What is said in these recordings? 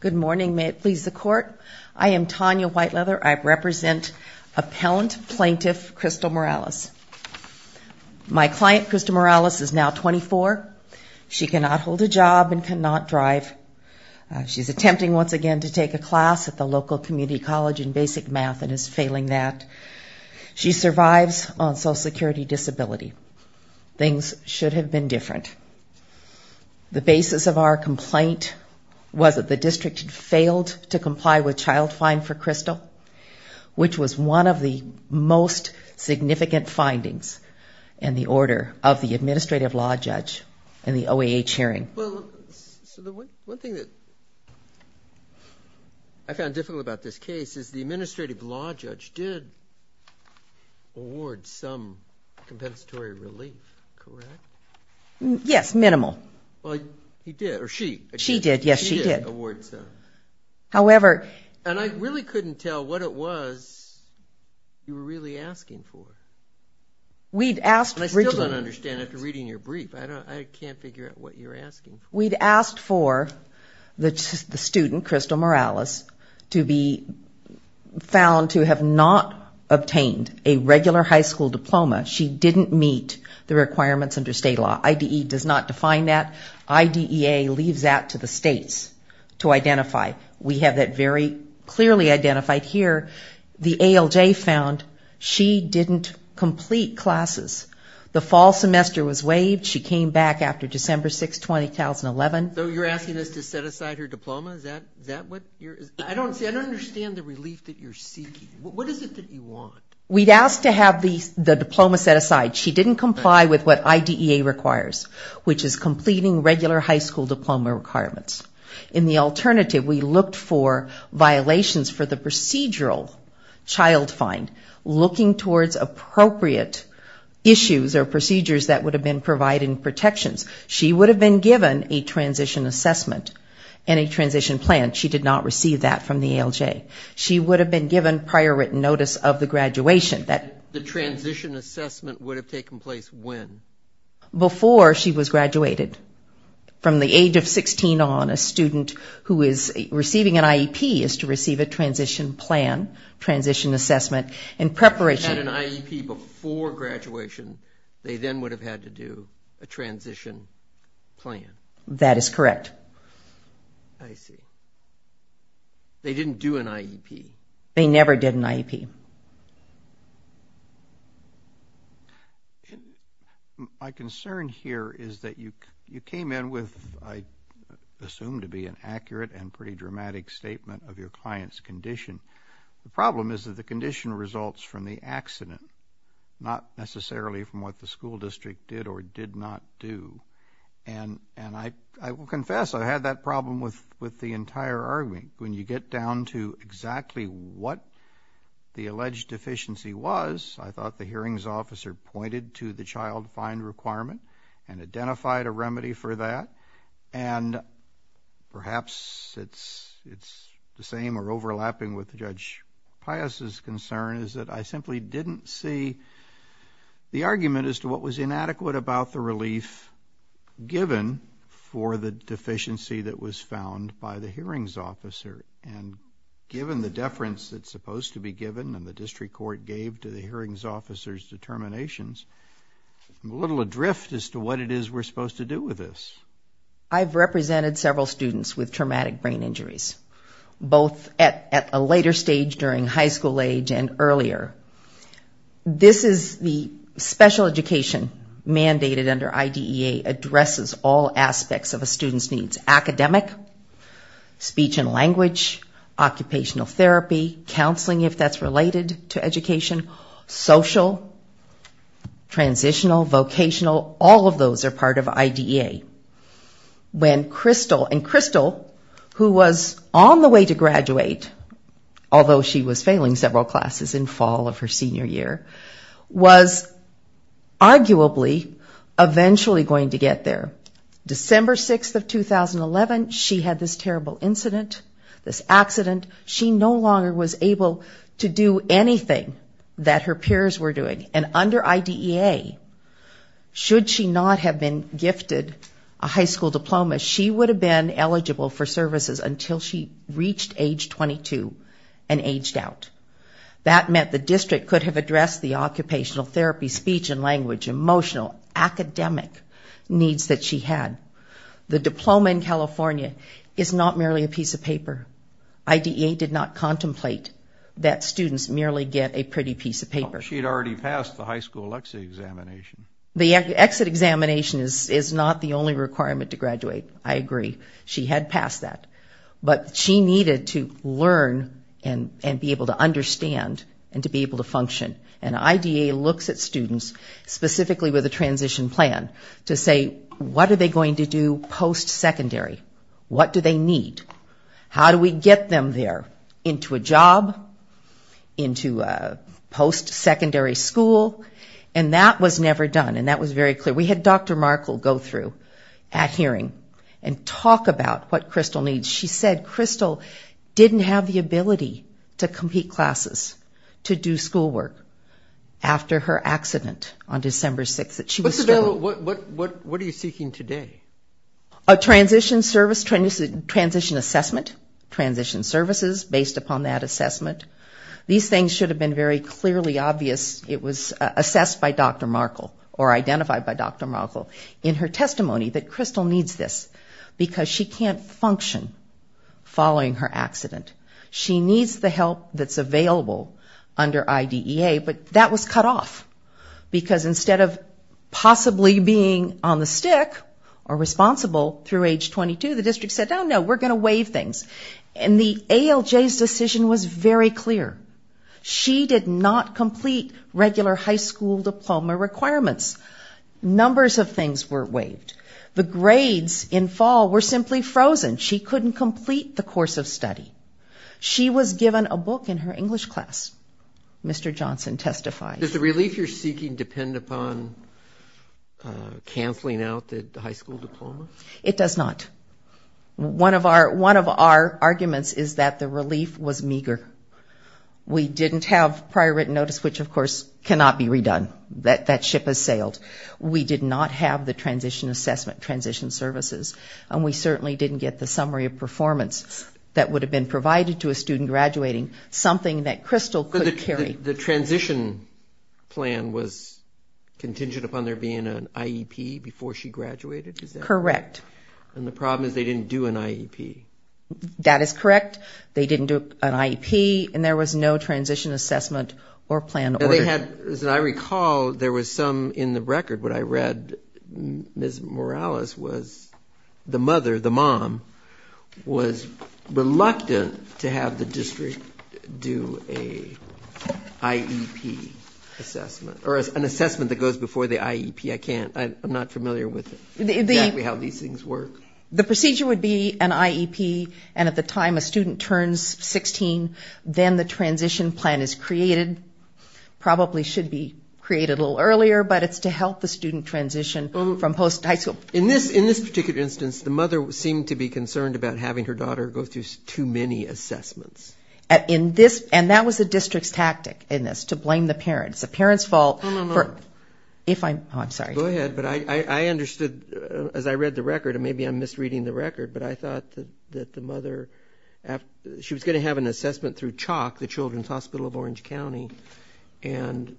Good morning. May it please the Court? I am Tanya Whiteleather. I represent appellant plaintiff Crystal Morales. My client, Crystal Morales, is now 24. She cannot hold a job and cannot drive. She's attempting once again to take a class at the local community college in basic math and is failing that. She survives on social security disability. Things should have been different. The basis of our complaint was that the district had failed to comply with child fine for Crystal, which was one of the most significant findings in the order of the administrative law judge in the OAH hearing. Well, one thing that I found difficult about this case is the administrative law judge did award some compensatory relief, correct? Yes, minimal. Well, he did, or she did. She did, yes, she did. She did award some. However... And I really couldn't tell what it was you were really asking for. We'd asked originally... And I still don't understand after reading your brief. I can't figure out what you're asking for. We'd asked for the student, Crystal Morales, to be found to have not obtained a regular high school diploma. She didn't meet the requirements under state law. IDE does not define that. IDEA leaves that to the states to identify. We have that very clearly identified here. The ALJ found she didn't complete classes. The fall semester was waived. She came back after December 6, 2011. So you're asking us to set aside her diploma? Is that what you're... I don't understand the relief that you're seeking. What is it that you want? We'd asked to have the diploma set aside. She didn't comply with what IDEA requires, which is completing regular high school diploma requirements. In the alternative, we looked for violations for the procedural child find, looking towards appropriate issues or procedures that would have been providing protections. She would have been given a transition assessment and a transition plan. She did not receive that from the ALJ. She would have been given prior written notice of the graduation. The transition assessment would have taken place when? Before she was graduated. From the age of 16 on, a student who is receiving an IEP is to receive a transition plan, transition assessment in preparation. If they had an IEP before graduation, they then would have had to do a transition plan. That is correct. I see. They didn't do an IEP. They never did an IEP. My concern here is that you came in with, I assume to be an accurate and pretty dramatic statement of your client's condition. The problem is that the condition results from the accident, not necessarily from what the school district did or did not do. I will confess I had that problem with the entire argument. When you get down to exactly what the alleged deficiency was, I thought the hearings officer pointed to the child find requirement and identified a remedy for that. Perhaps it's the same or overlapping with Judge Pius' concern, is that I simply didn't see the argument as to what was inadequate about the relief given for the deficiency that was found by the hearings officer. Given the deference that's supposed to be given and the district court gave to the hearings officer's determinations, a little adrift as to what it is we're supposed to do with this. I've represented several students with traumatic brain injuries, both at a later stage during high school age and earlier. This is the special education mandated under IDEA addresses all aspects of a student's needs. Academic, speech and language, occupational therapy, counseling if that's related to education, social, transitional, vocational, all of those are part of IDEA. And Crystal, who was on the way to graduate, although she was failing several classes in fall of her senior year, was arguably eventually going to get there. December 6th of 2011, she had this terrible incident, this accident. She no longer was able to do anything that her peers were doing. And under IDEA, should she not have been gifted a high school diploma, she would have been eligible for services until she reached age 22 and aged out. That meant the district could have addressed the occupational therapy, speech and language, emotional, academic needs that she had. The diploma in California is not merely a piece of paper. IDEA did not contemplate that students merely get a pretty piece of paper. She had already passed the high school exit examination. The exit examination is not the only requirement to graduate, I agree. She had passed that. But she needed to learn and be able to understand and to be able to function. And IDEA looks at students, specifically with a transition plan, to say, what are they going to do post-secondary? What do they need? How do we get them there? Into a job? Into a post-secondary school? And that was never done, and that was very clear. We had Dr. Markle go through at hearing and talk about what Crystal needs. She said Crystal didn't have the ability to complete classes, to do schoolwork, after her accident on December 6th that she was struggling. What are you seeking today? A transition service, transition assessment, transition services based upon that assessment. These things should have been very clearly obvious. It was assessed by Dr. Markle or identified by Dr. Markle in her testimony that Crystal needs this, because she can't function following her accident. She needs the help that's available under IDEA, but that was cut off, because instead of possibly being on the stick or responsible through age 22, the district said, oh, no, we're going to waive things. And the ALJ's decision was very clear. She did not complete regular high school diploma requirements. Numbers of things were waived. The grades in fall were simply frozen. She couldn't complete the course of study. She was given a book in her English class, Mr. Johnson testified. Does the relief you're seeking depend upon canceling out the high school diploma? It does not. One of our arguments is that the relief was meager. We didn't have prior written notice, which, of course, cannot be redone. That ship has sailed. We did not have the transition assessment, transition services, and we certainly didn't get the summary of performance that would have been provided to a student graduating, something that Crystal could carry. The transition plan was contingent upon there being an IEP before she graduated? Correct. And the problem is they didn't do an IEP. That is correct. They didn't do an IEP, and there was no transition assessment or plan. As I recall, there was some in the record. What I read, Ms. Morales, was the mother, the mom, was reluctant to have the district do an IEP assessment, or an assessment that goes before the IEP. I'm not familiar with exactly how these things work. The procedure would be an IEP, and at the time a student turns 16, then the transition plan is created. Probably should be created a little earlier, but it's to help the student transition from post-high school. In this particular instance, the mother seemed to be concerned about having her daughter go through too many assessments. And that was the district's tactic in this, to blame the parents. Go ahead, but I understood, as I read the record, and maybe I'm misreading the record, but I thought that the mother, she was going to have an assessment through CHOC, the Children's Hospital of Orange County, and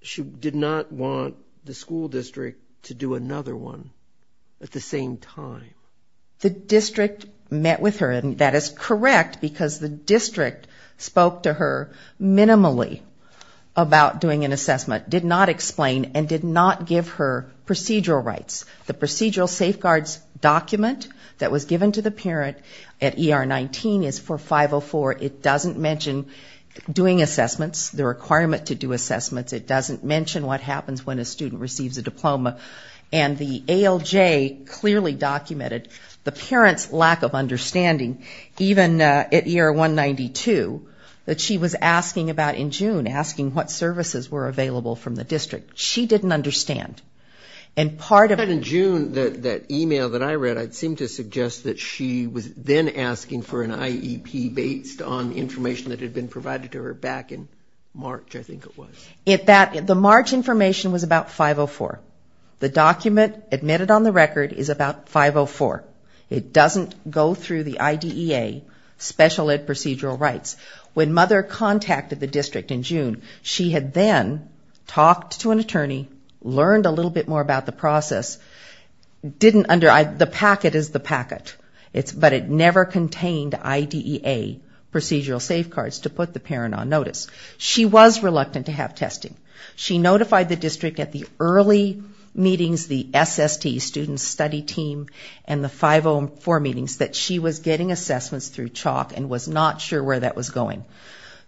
she did not want the school district to do another one at the same time. The district met with her, and that is correct, because the district spoke to her minimally about doing an assessment, did not explain, and did not give her procedural rights. The procedural safeguards document that was given to the parent at ER 19 is for 504. It doesn't mention doing assessments, the requirement to do assessments. It doesn't mention what happens when a student receives a diploma. And the ALJ clearly documented the parent's lack of understanding, even at ER 192, that she was asking about in June, asking what services were available from the district. She didn't understand. And part of it... In June, that e-mail that I read, I seem to suggest that she was then asking for an IEP based on information that had been provided to her back in March, I think it was. The March information was about 504. The document admitted on the record is about 504. It doesn't go through the IDEA special ed procedural rights. When Mother contacted the district in June, she had then talked to an attorney, learned a little bit more about the process, didn't under... The packet is the packet, but it never contained IDEA procedural safeguards to put the parent on notice. She was reluctant to have testing. She notified the district at the early meetings, the SST, student study team, and the 504 meetings, that she was getting assessments through chalk and was not sure where that was going.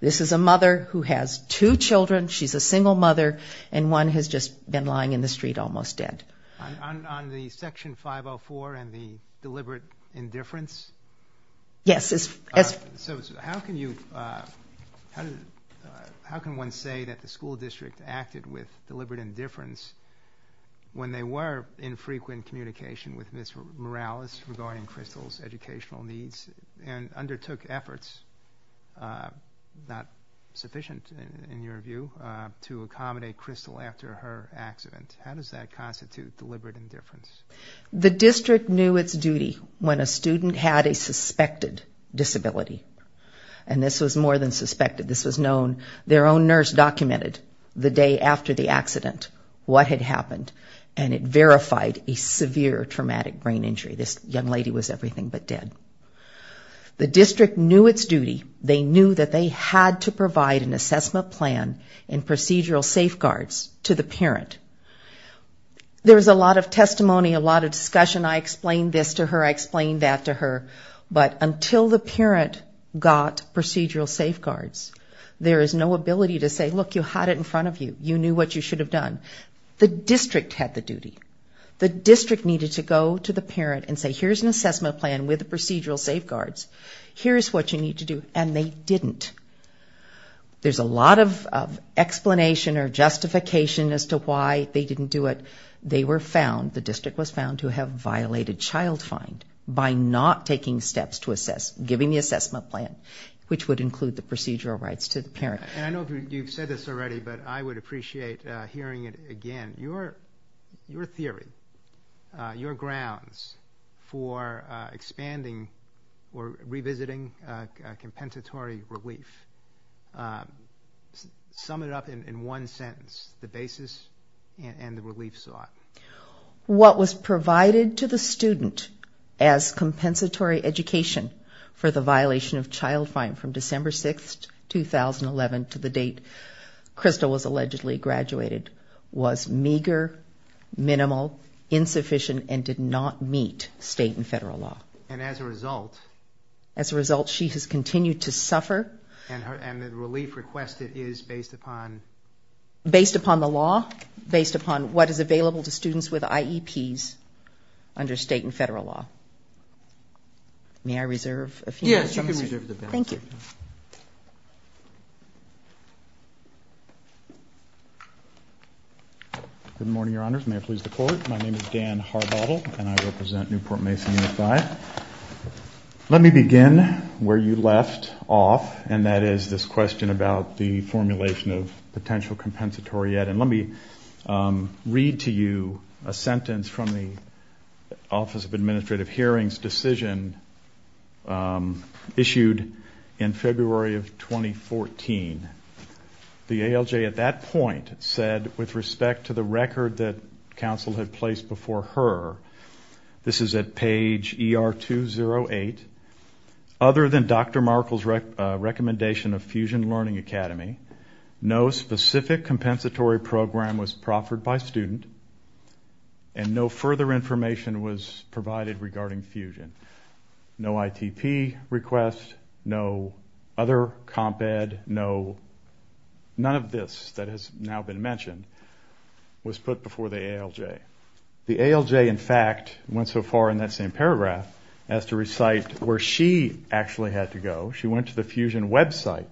This is a mother who has two children, she's a single mother, and one has just been lying in the street almost dead. On the section 504 and the deliberate indifference? Yes. How can one say that the school district acted with deliberate indifference when they were in frequent communication with Ms. Morales regarding Crystal's educational needs and undertook efforts, not sufficient in your view, to accommodate Crystal after her accident? How does that constitute deliberate indifference? And this was more than suspected, this was known. Their own nurse documented the day after the accident what had happened, and it verified a severe traumatic brain injury. This young lady was everything but dead. The district knew its duty, they knew that they had to provide an assessment plan and procedural safeguards to the parent. There was a lot of testimony, a lot of discussion. The parent got procedural safeguards. There is no ability to say, look, you had it in front of you, you knew what you should have done. The district had the duty. The district needed to go to the parent and say, here's an assessment plan with procedural safeguards, here's what you need to do, and they didn't. There's a lot of explanation or justification as to why they didn't do it. They were found, the district was found to have violated child find by not taking steps to assess, giving the assessment plan, which would include the procedural rights to the parent. And I know you've said this already, but I would appreciate hearing it again. Your theory, your grounds for expanding or revisiting compensatory relief, sum it up in one sentence. The basis and the relief sought. What was provided to the student as compensatory education for the violation of child find from December 6, 2011 to the date Crystal was allegedly graduated was meager, minimal, insufficient, and did not meet state and federal law. And as a result, she has continued to suffer. And the relief requested is based upon? Based upon the law, based upon what is available to students with IEPs under state and federal law. May I reserve a few minutes? Yes, you can reserve the balance. Thank you. Good morning, Your Honors. May it please the Court. My name is Dan Harbottle, and I represent Newport Mason Unified. Let me begin where you left off, and that is this question about the formulation of potential compensatory ed. And let me read to you a sentence from the Office of Administrative Affairs in February of 2014. The ALJ at that point said, with respect to the record that counsel had placed before her, this is at page ER208. Other than Dr. Markle's recommendation of Fusion Learning Academy, no specific compensatory program was proffered by student, and no further information was provided regarding Fusion. No ITP request, no other comp ed, none of this that has now been mentioned was put before the ALJ. The ALJ, in fact, went so far in that same paragraph as to recite where she actually had to go. She went to the Fusion website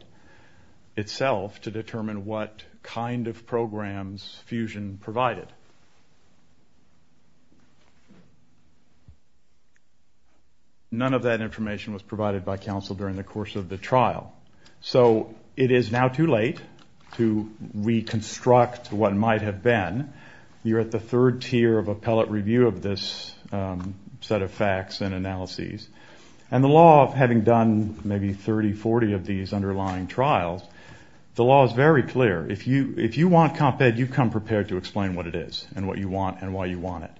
itself to determine what kind of programs Fusion provided. None of that information was provided by counsel during the course of the trial. So it is now too late to reconstruct what might have been. You're at the third tier of appellate review of this set of facts and analyses. And the law, having done maybe 30, 40 of these underlying trials, the law is very clear. If you want comp ed, you come prepared to explain what it is and what you want and why you want it.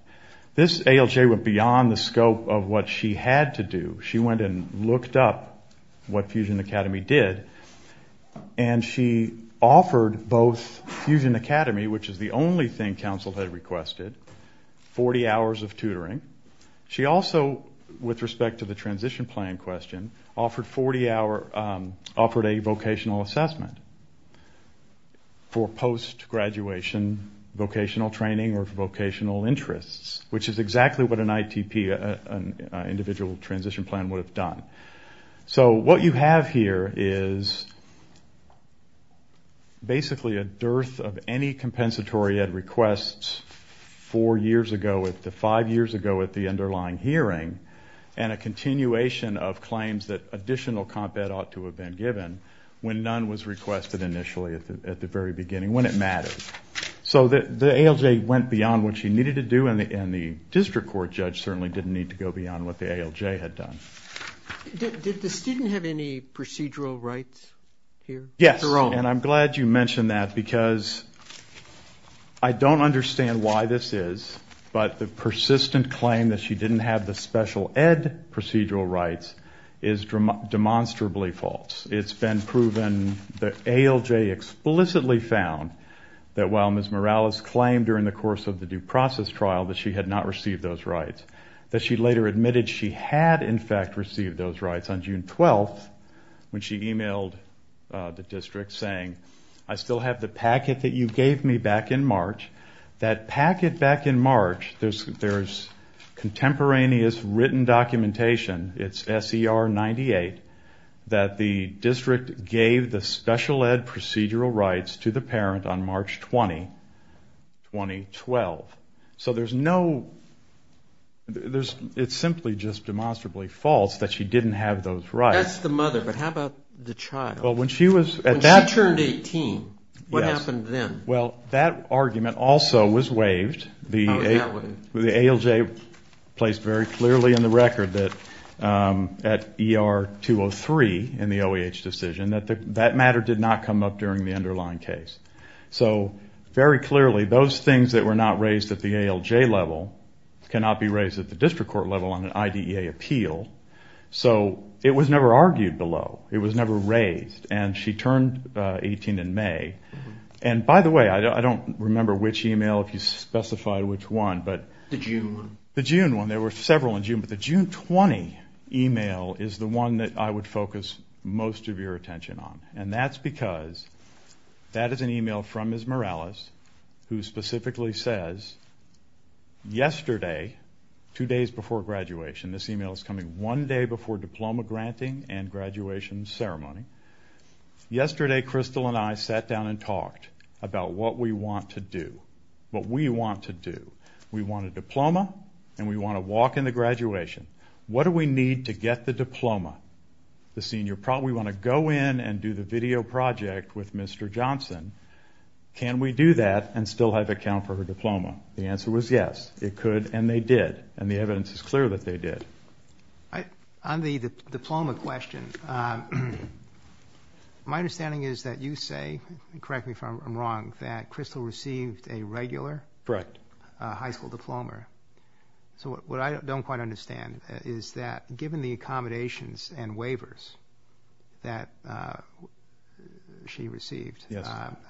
This ALJ went beyond the scope of what she had to do. She went and looked up what Fusion Academy did, and she offered both Fusion Academy, which is the only thing counsel had requested, 40 hours of tutoring. She also, with respect to the transition plan question, offered a vocational assessment for post-graduation vocational training or vocational interests. Which is exactly what an ITP, an individual transition plan, would have done. So what you have here is basically a dearth of any compensatory ed requests four years ago, five years ago at the underlying hearing, and a continuation of claims that additional comp ed ought to have been given when none was requested initially at the very beginning, when it mattered. So the ALJ went beyond what she needed to do, and the district court judge certainly didn't need to go beyond what the ALJ had done. Did the student have any procedural rights here? Yes, and I'm glad you mentioned that, because I don't understand why this is, but the persistent claim that she didn't have the special ed procedural rights is demonstrably false. It's been proven, the ALJ explicitly found, that while Ms. Morales claimed during the course of the due process trial that she had not received those rights, that she later admitted she had, in fact, received those rights on June 12th, when she emailed the district saying, I still have the packet that you gave me back in March. That packet back in March, there's contemporaneous written documentation, it's SER 98, that the district gave the special ed procedural rights to the parent on March 20, 2012. So there's no, it's simply just demonstrably false that she didn't have those rights. That's the mother, but how about the child? When she turned 18, what happened then? Well, that argument also was waived. The ALJ placed very clearly in the record that at ER 203 in the OEH decision, that that matter did not come up during the underlying case. So very clearly, those things that were not raised at the ALJ level cannot be raised at the district court level on an IDEA appeal. So it was never argued below. It was never raised, and she turned 18 in May. And by the way, I don't remember which email, if you specified which one, but... The June one. The June one, there were several in June, but the June 20 email is the one that I would focus most of your attention on. And that's because that is an email from Ms. Morales, who specifically says, yesterday, two days before graduation, this email is coming one day before diploma granting and graduation ceremony. Yesterday, Crystal and I sat down and talked about what we want to do. What we want to do. We want a diploma, and we want to walk into graduation. What do we need to get the diploma? We want to go in and do the video project with Mr. Johnson. Can we do that and still have account for her diploma? The answer was yes, it could, and they did, and the evidence is clear that they did. On the diploma question, my understanding is that you say, correct me if I'm wrong, that Crystal received a regular high school diploma. So what I don't quite understand is that given the accommodations and waivers that she received,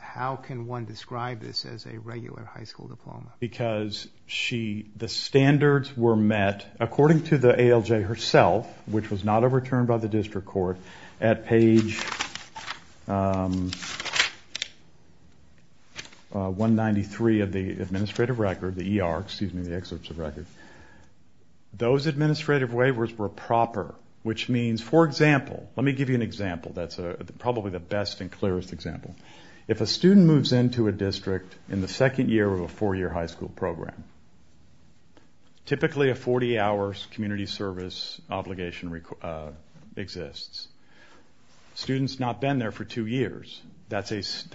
how can one describe this as a regular high school diploma? Because the standards were met, according to the ALJ herself, which was not overturned by the district court, at page 193 of the administrative record, the ER, excuse me, the excerpts of record, those administrative waivers were proper, which means, for example, let me give you an example that's probably the best and clearest example. If a student moves into a district in the second year of a four-year high school program, typically a 40-hour community service obligation exists. The student's not been there for two years. That is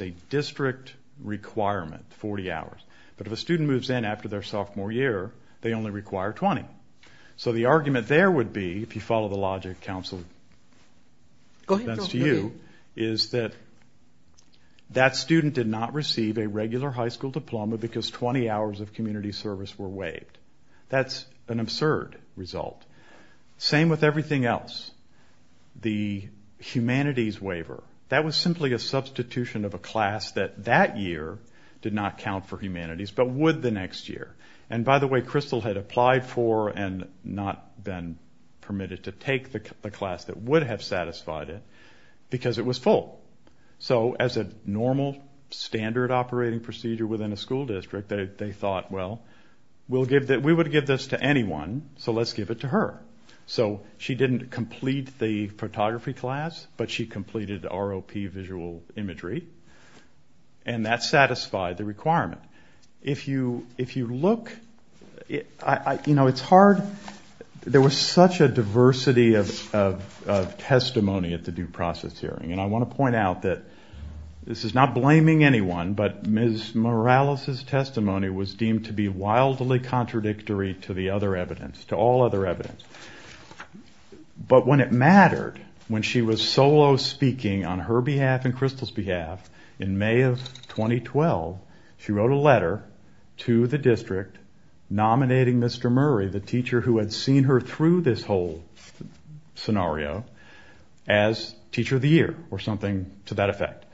a district requirement, 40 hours. But if a student moves in after their sophomore year, they only require 20. So the argument there would be, if you follow the logic counseled against you, is that that student did not receive a regular high school diploma because 20 hours of community service were waived. That's an absurd result. Same with everything else. The humanities waiver, that was simply a substitution of a class that that year did not count for humanities, but would the next year. And by the way, Crystal had applied for and not been permitted to take the class that would have satisfied it because it was full. So as a normal standard operating procedure within a school district, they thought, well, we would give this to anyone, so let's give it to her. So she didn't complete the photography class, but she completed ROP visual imagery, and that satisfied the requirement. There was such a diversity of testimony at the due process hearing, and I want to point out that this is not blaming anyone, but Ms. Morales' testimony was deemed to be wildly contradictory to the other evidence, to all other evidence. But when it mattered, when she was solo speaking on her behalf and Crystal's behalf in May of 2012, she wrote a letter to the district nominating Mr. Murray, the teacher who had seen her through this whole scenario, as teacher of the year, or something to that effect.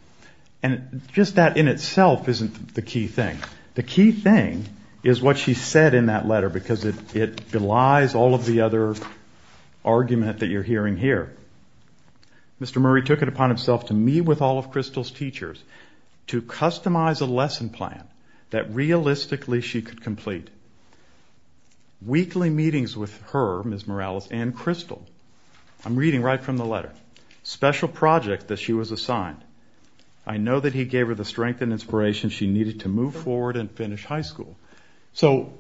And just that in itself isn't the key thing. The key thing is what she said in that letter, because it belies all of the other argument that you're hearing here. Mr. Murray took it upon himself to meet with all of Crystal's teachers to customize a lesson plan that realistically she could complete. Weekly meetings with her, Ms. Morales and Crystal. I'm reading right from the letter. Special project that she was assigned. I know that he gave her the strength and inspiration she needed to move forward and finish high school. So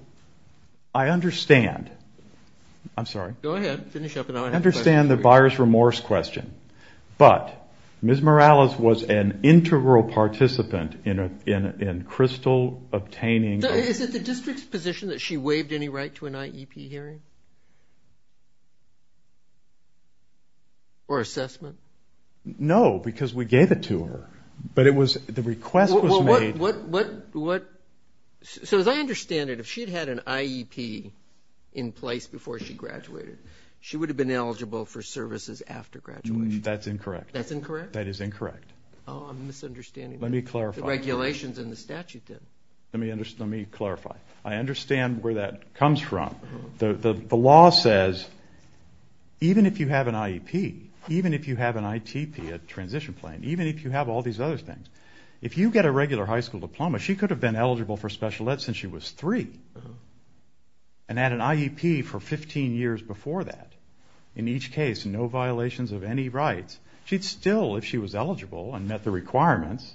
I understand the buyer's remorse question, but Ms. Morales was an integral participant in Crystal obtaining... Is it the district's position that she waived any right to an IEP hearing? Or assessment? No, because we gave it to her, but the request was made... So as I understand it, if she had had an IEP in place before she graduated, she would have been eligible for services after graduation. That's incorrect. Let me clarify. I understand where that comes from. The law says even if you have an IEP, even if you have an ITP, a transition plan, even if you have all these other things, if you get a regular high school diploma, she could have been eligible for special ed since she was three and had an IEP for 15 years before that. In each case, no violations of any rights. She'd still, if she was eligible and met the requirements,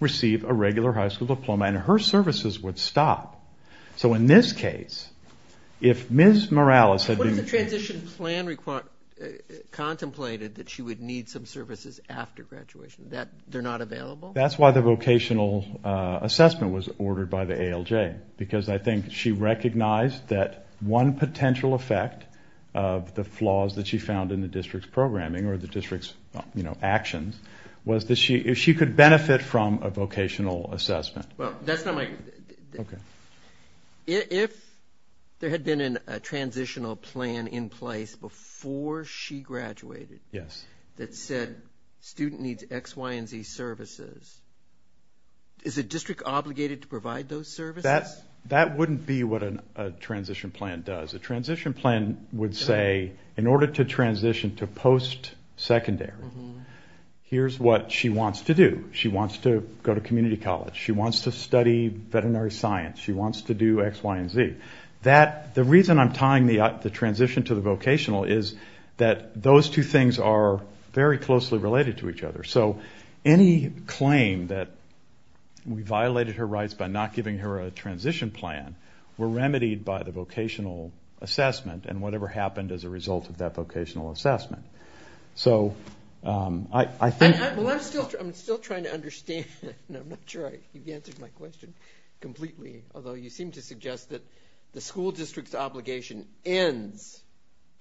receive a regular high school diploma, and her services would stop. So in this case, if Ms. Morales... What if the transition plan contemplated that she would need some services after graduation? They're not available? That's why the vocational assessment was ordered by the ALJ, because I think she recognized that one potential effect of the flaws that she found in the district's programming or the district's actions was that she could benefit from a vocational assessment. Well, that's not my... If there had been a transitional plan in place before she graduated that said student needs X, Y, and Z services, is the district obligated to provide those services? That wouldn't be what a transition plan does. A transition plan would say, in order to transition to post-secondary, here's what she wants to do. She wants to go to community college. She wants to study veterinary science. She wants to do X, Y, and Z. The reason I'm tying the transition to the vocational is that those two things are very closely related to each other. So any claim that we violated her rights by not giving her a transition plan were remedied by the vocational assessment and whatever happened as a result of that vocational assessment. So I think... I'm still trying to understand. I'm not sure you've answered my question completely, although you seem to suggest that the school district's obligation ends.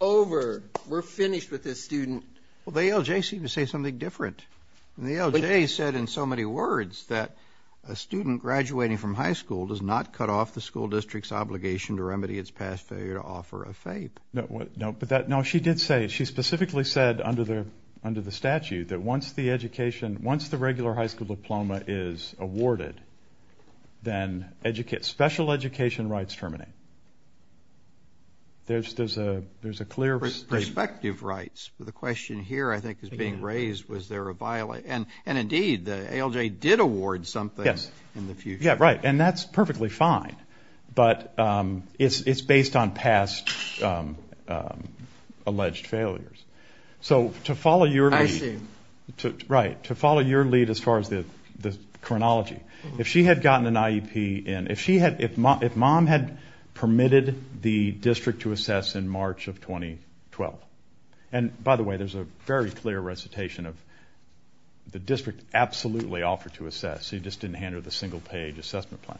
Over. We're finished with this student. Well, the ALJ seemed to say something different. The ALJ said in so many words that a student graduating from high school does not cut off the school district's obligation to remedy its past failure to offer a FAPE. No, she did say, she specifically said under the statute that once the education, once the regular high school diploma is awarded, then special education rights terminate. There's a clear... Perspective rights. The question here I think is being raised, was there a... And indeed, the ALJ did award something in the future. Yeah, right, and that's perfectly fine, but it's based on past alleged failures. So to follow your lead... If she had gotten an IEP, if mom had permitted the district to assess in March of 2012, and by the way, there's a very clear recitation of the district absolutely offered to assess, you just didn't hand her the single page assessment plan.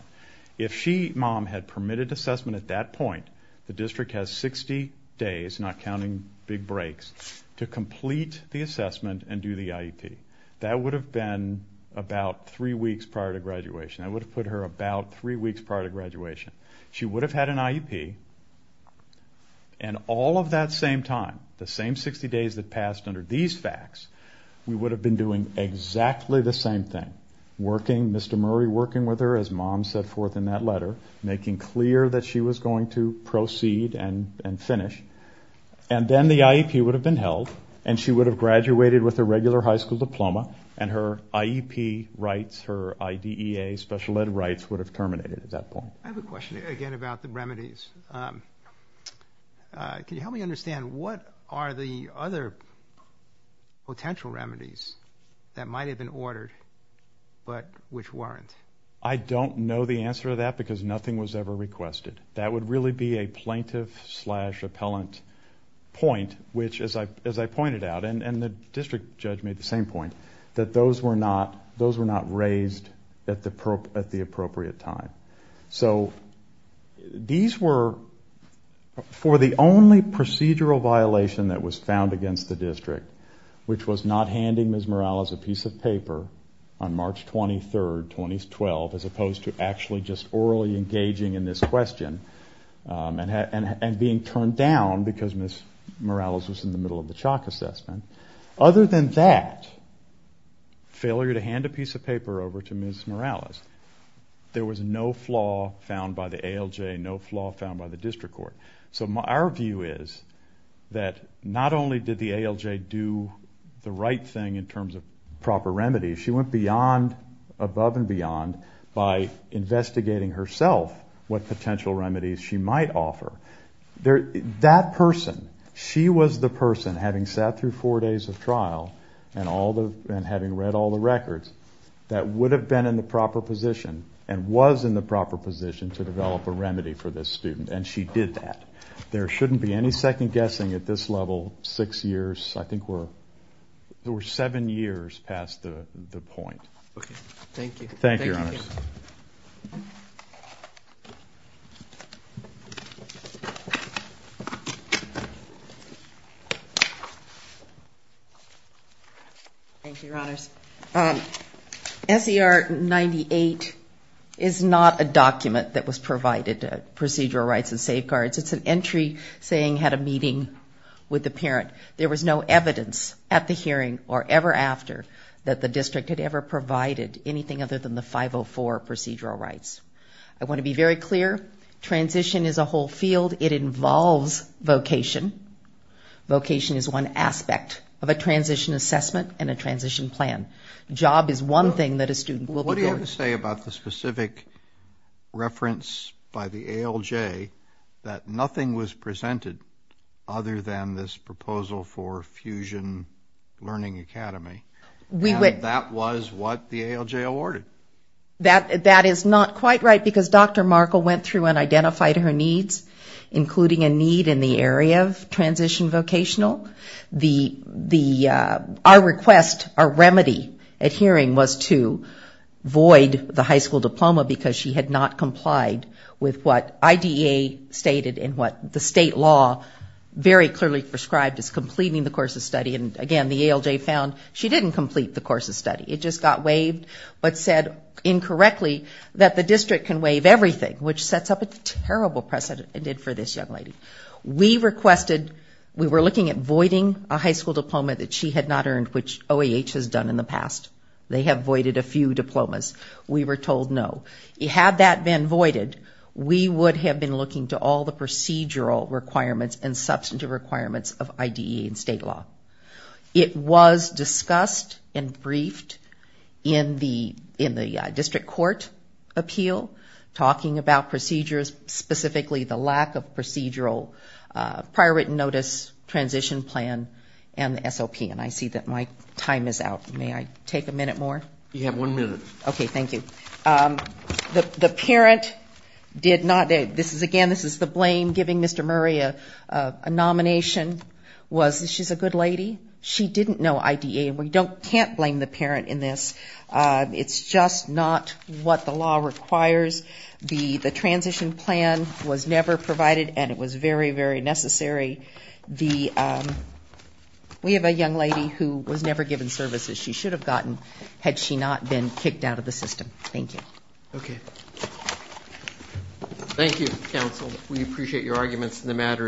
If she, mom, had permitted assessment at that point, the district has 60 days, not counting big breaks, to complete the assessment and do the IEP. That would have been about three weeks prior to graduation. That would have put her about three weeks prior to graduation. She would have had an IEP, and all of that same time, the same 60 days that passed under these facts, we would have been doing exactly the same thing. Working, Mr. Murray working with her, as mom set forth in that letter, making clear that she was going to proceed and finish. And then the IEP would have been held, and she would have graduated with a regular high school diploma, and her IEP rights, her IDEA special ed rights would have terminated at that point. I have a question again about the remedies. Can you help me understand, what are the other potential remedies that might have been ordered, but which weren't? I don't know the answer to that, because nothing was ever requested. That would really be a plaintiff-slash-appellant point, which, as I pointed out, and the district judge made the same point, that those were not raised at the appropriate time. For the only procedural violation that was found against the district, which was not handing Ms. Morales a piece of paper on March 23, 2012, as opposed to actually just orally engaging in this question, and being turned down because Ms. Morales was in the middle of the chalk assessment. Other than that, failure to hand a piece of paper over to Ms. Morales, there was no flaw found by the ALJ, no flaw found by the district court. So our view is that not only did the ALJ do the right thing in terms of proper remedies, she went above and beyond by investigating herself what potential remedies she might offer. That person, she was the person, having sat through four days of trial and having read all the records, that would have been in the proper position and was in the proper position to develop a remedy for this student, and she did that. There shouldn't be any second guessing at this level, six years, I think we're, we're seven years past the point. Okay. Thank you. Thank you, Your Honors. SER 98 is not a document that was provided, procedural rights and safeguards. It's an entry saying had a meeting with the parent. There was no evidence at the hearing or ever after that the district had ever provided anything other than the 504 procedural rights. I want to be very clear, transition is a whole field. It involves vocation. Vocation is one aspect of a transition assessment and a transition plan. Job is one thing that a student will be doing. What do you have to say about the specific reference by the ALJ that nothing was presented other than this proposal for fusion learning academy? And that was what the ALJ awarded. That is not quite right, because Dr. Markle went through and identified her needs, including a need in the area of transition vocational. Our request, our remedy at hearing was to void the high school diploma, because she had not complied with what IDEA stated and what the state law very clearly prescribed as completing the course of study. And again, the ALJ found she didn't complete the course of study. It just got waived, but said incorrectly that the district can waive everything, which sets up a terrible precedent for this young lady. We requested, we were looking at voiding a high school diploma that she had not earned, which OAH has done in the past. They have voided a few diplomas. We were told no. Had that been voided, we would have been looking to all the procedural requirements and substantive requirements of IDEA and state law. It was discussed and briefed in the district court appeal, talking about procedures, specifically the lack of procedural prior written notice, transition plan and the SOP. And I see that my time is out. May I take a minute more? You have one minute. Okay. Thank you. The parent did not, this is again, this is the blame, giving Mr. Murray a nomination was she's a good lady. She didn't know IDEA and we can't blame the parent in this. It's just not what the law requires. The transition plan was never provided and it was very, very necessary. We have a young lady who was never given services she should have gotten had she not been kicked out of the system. Thank you.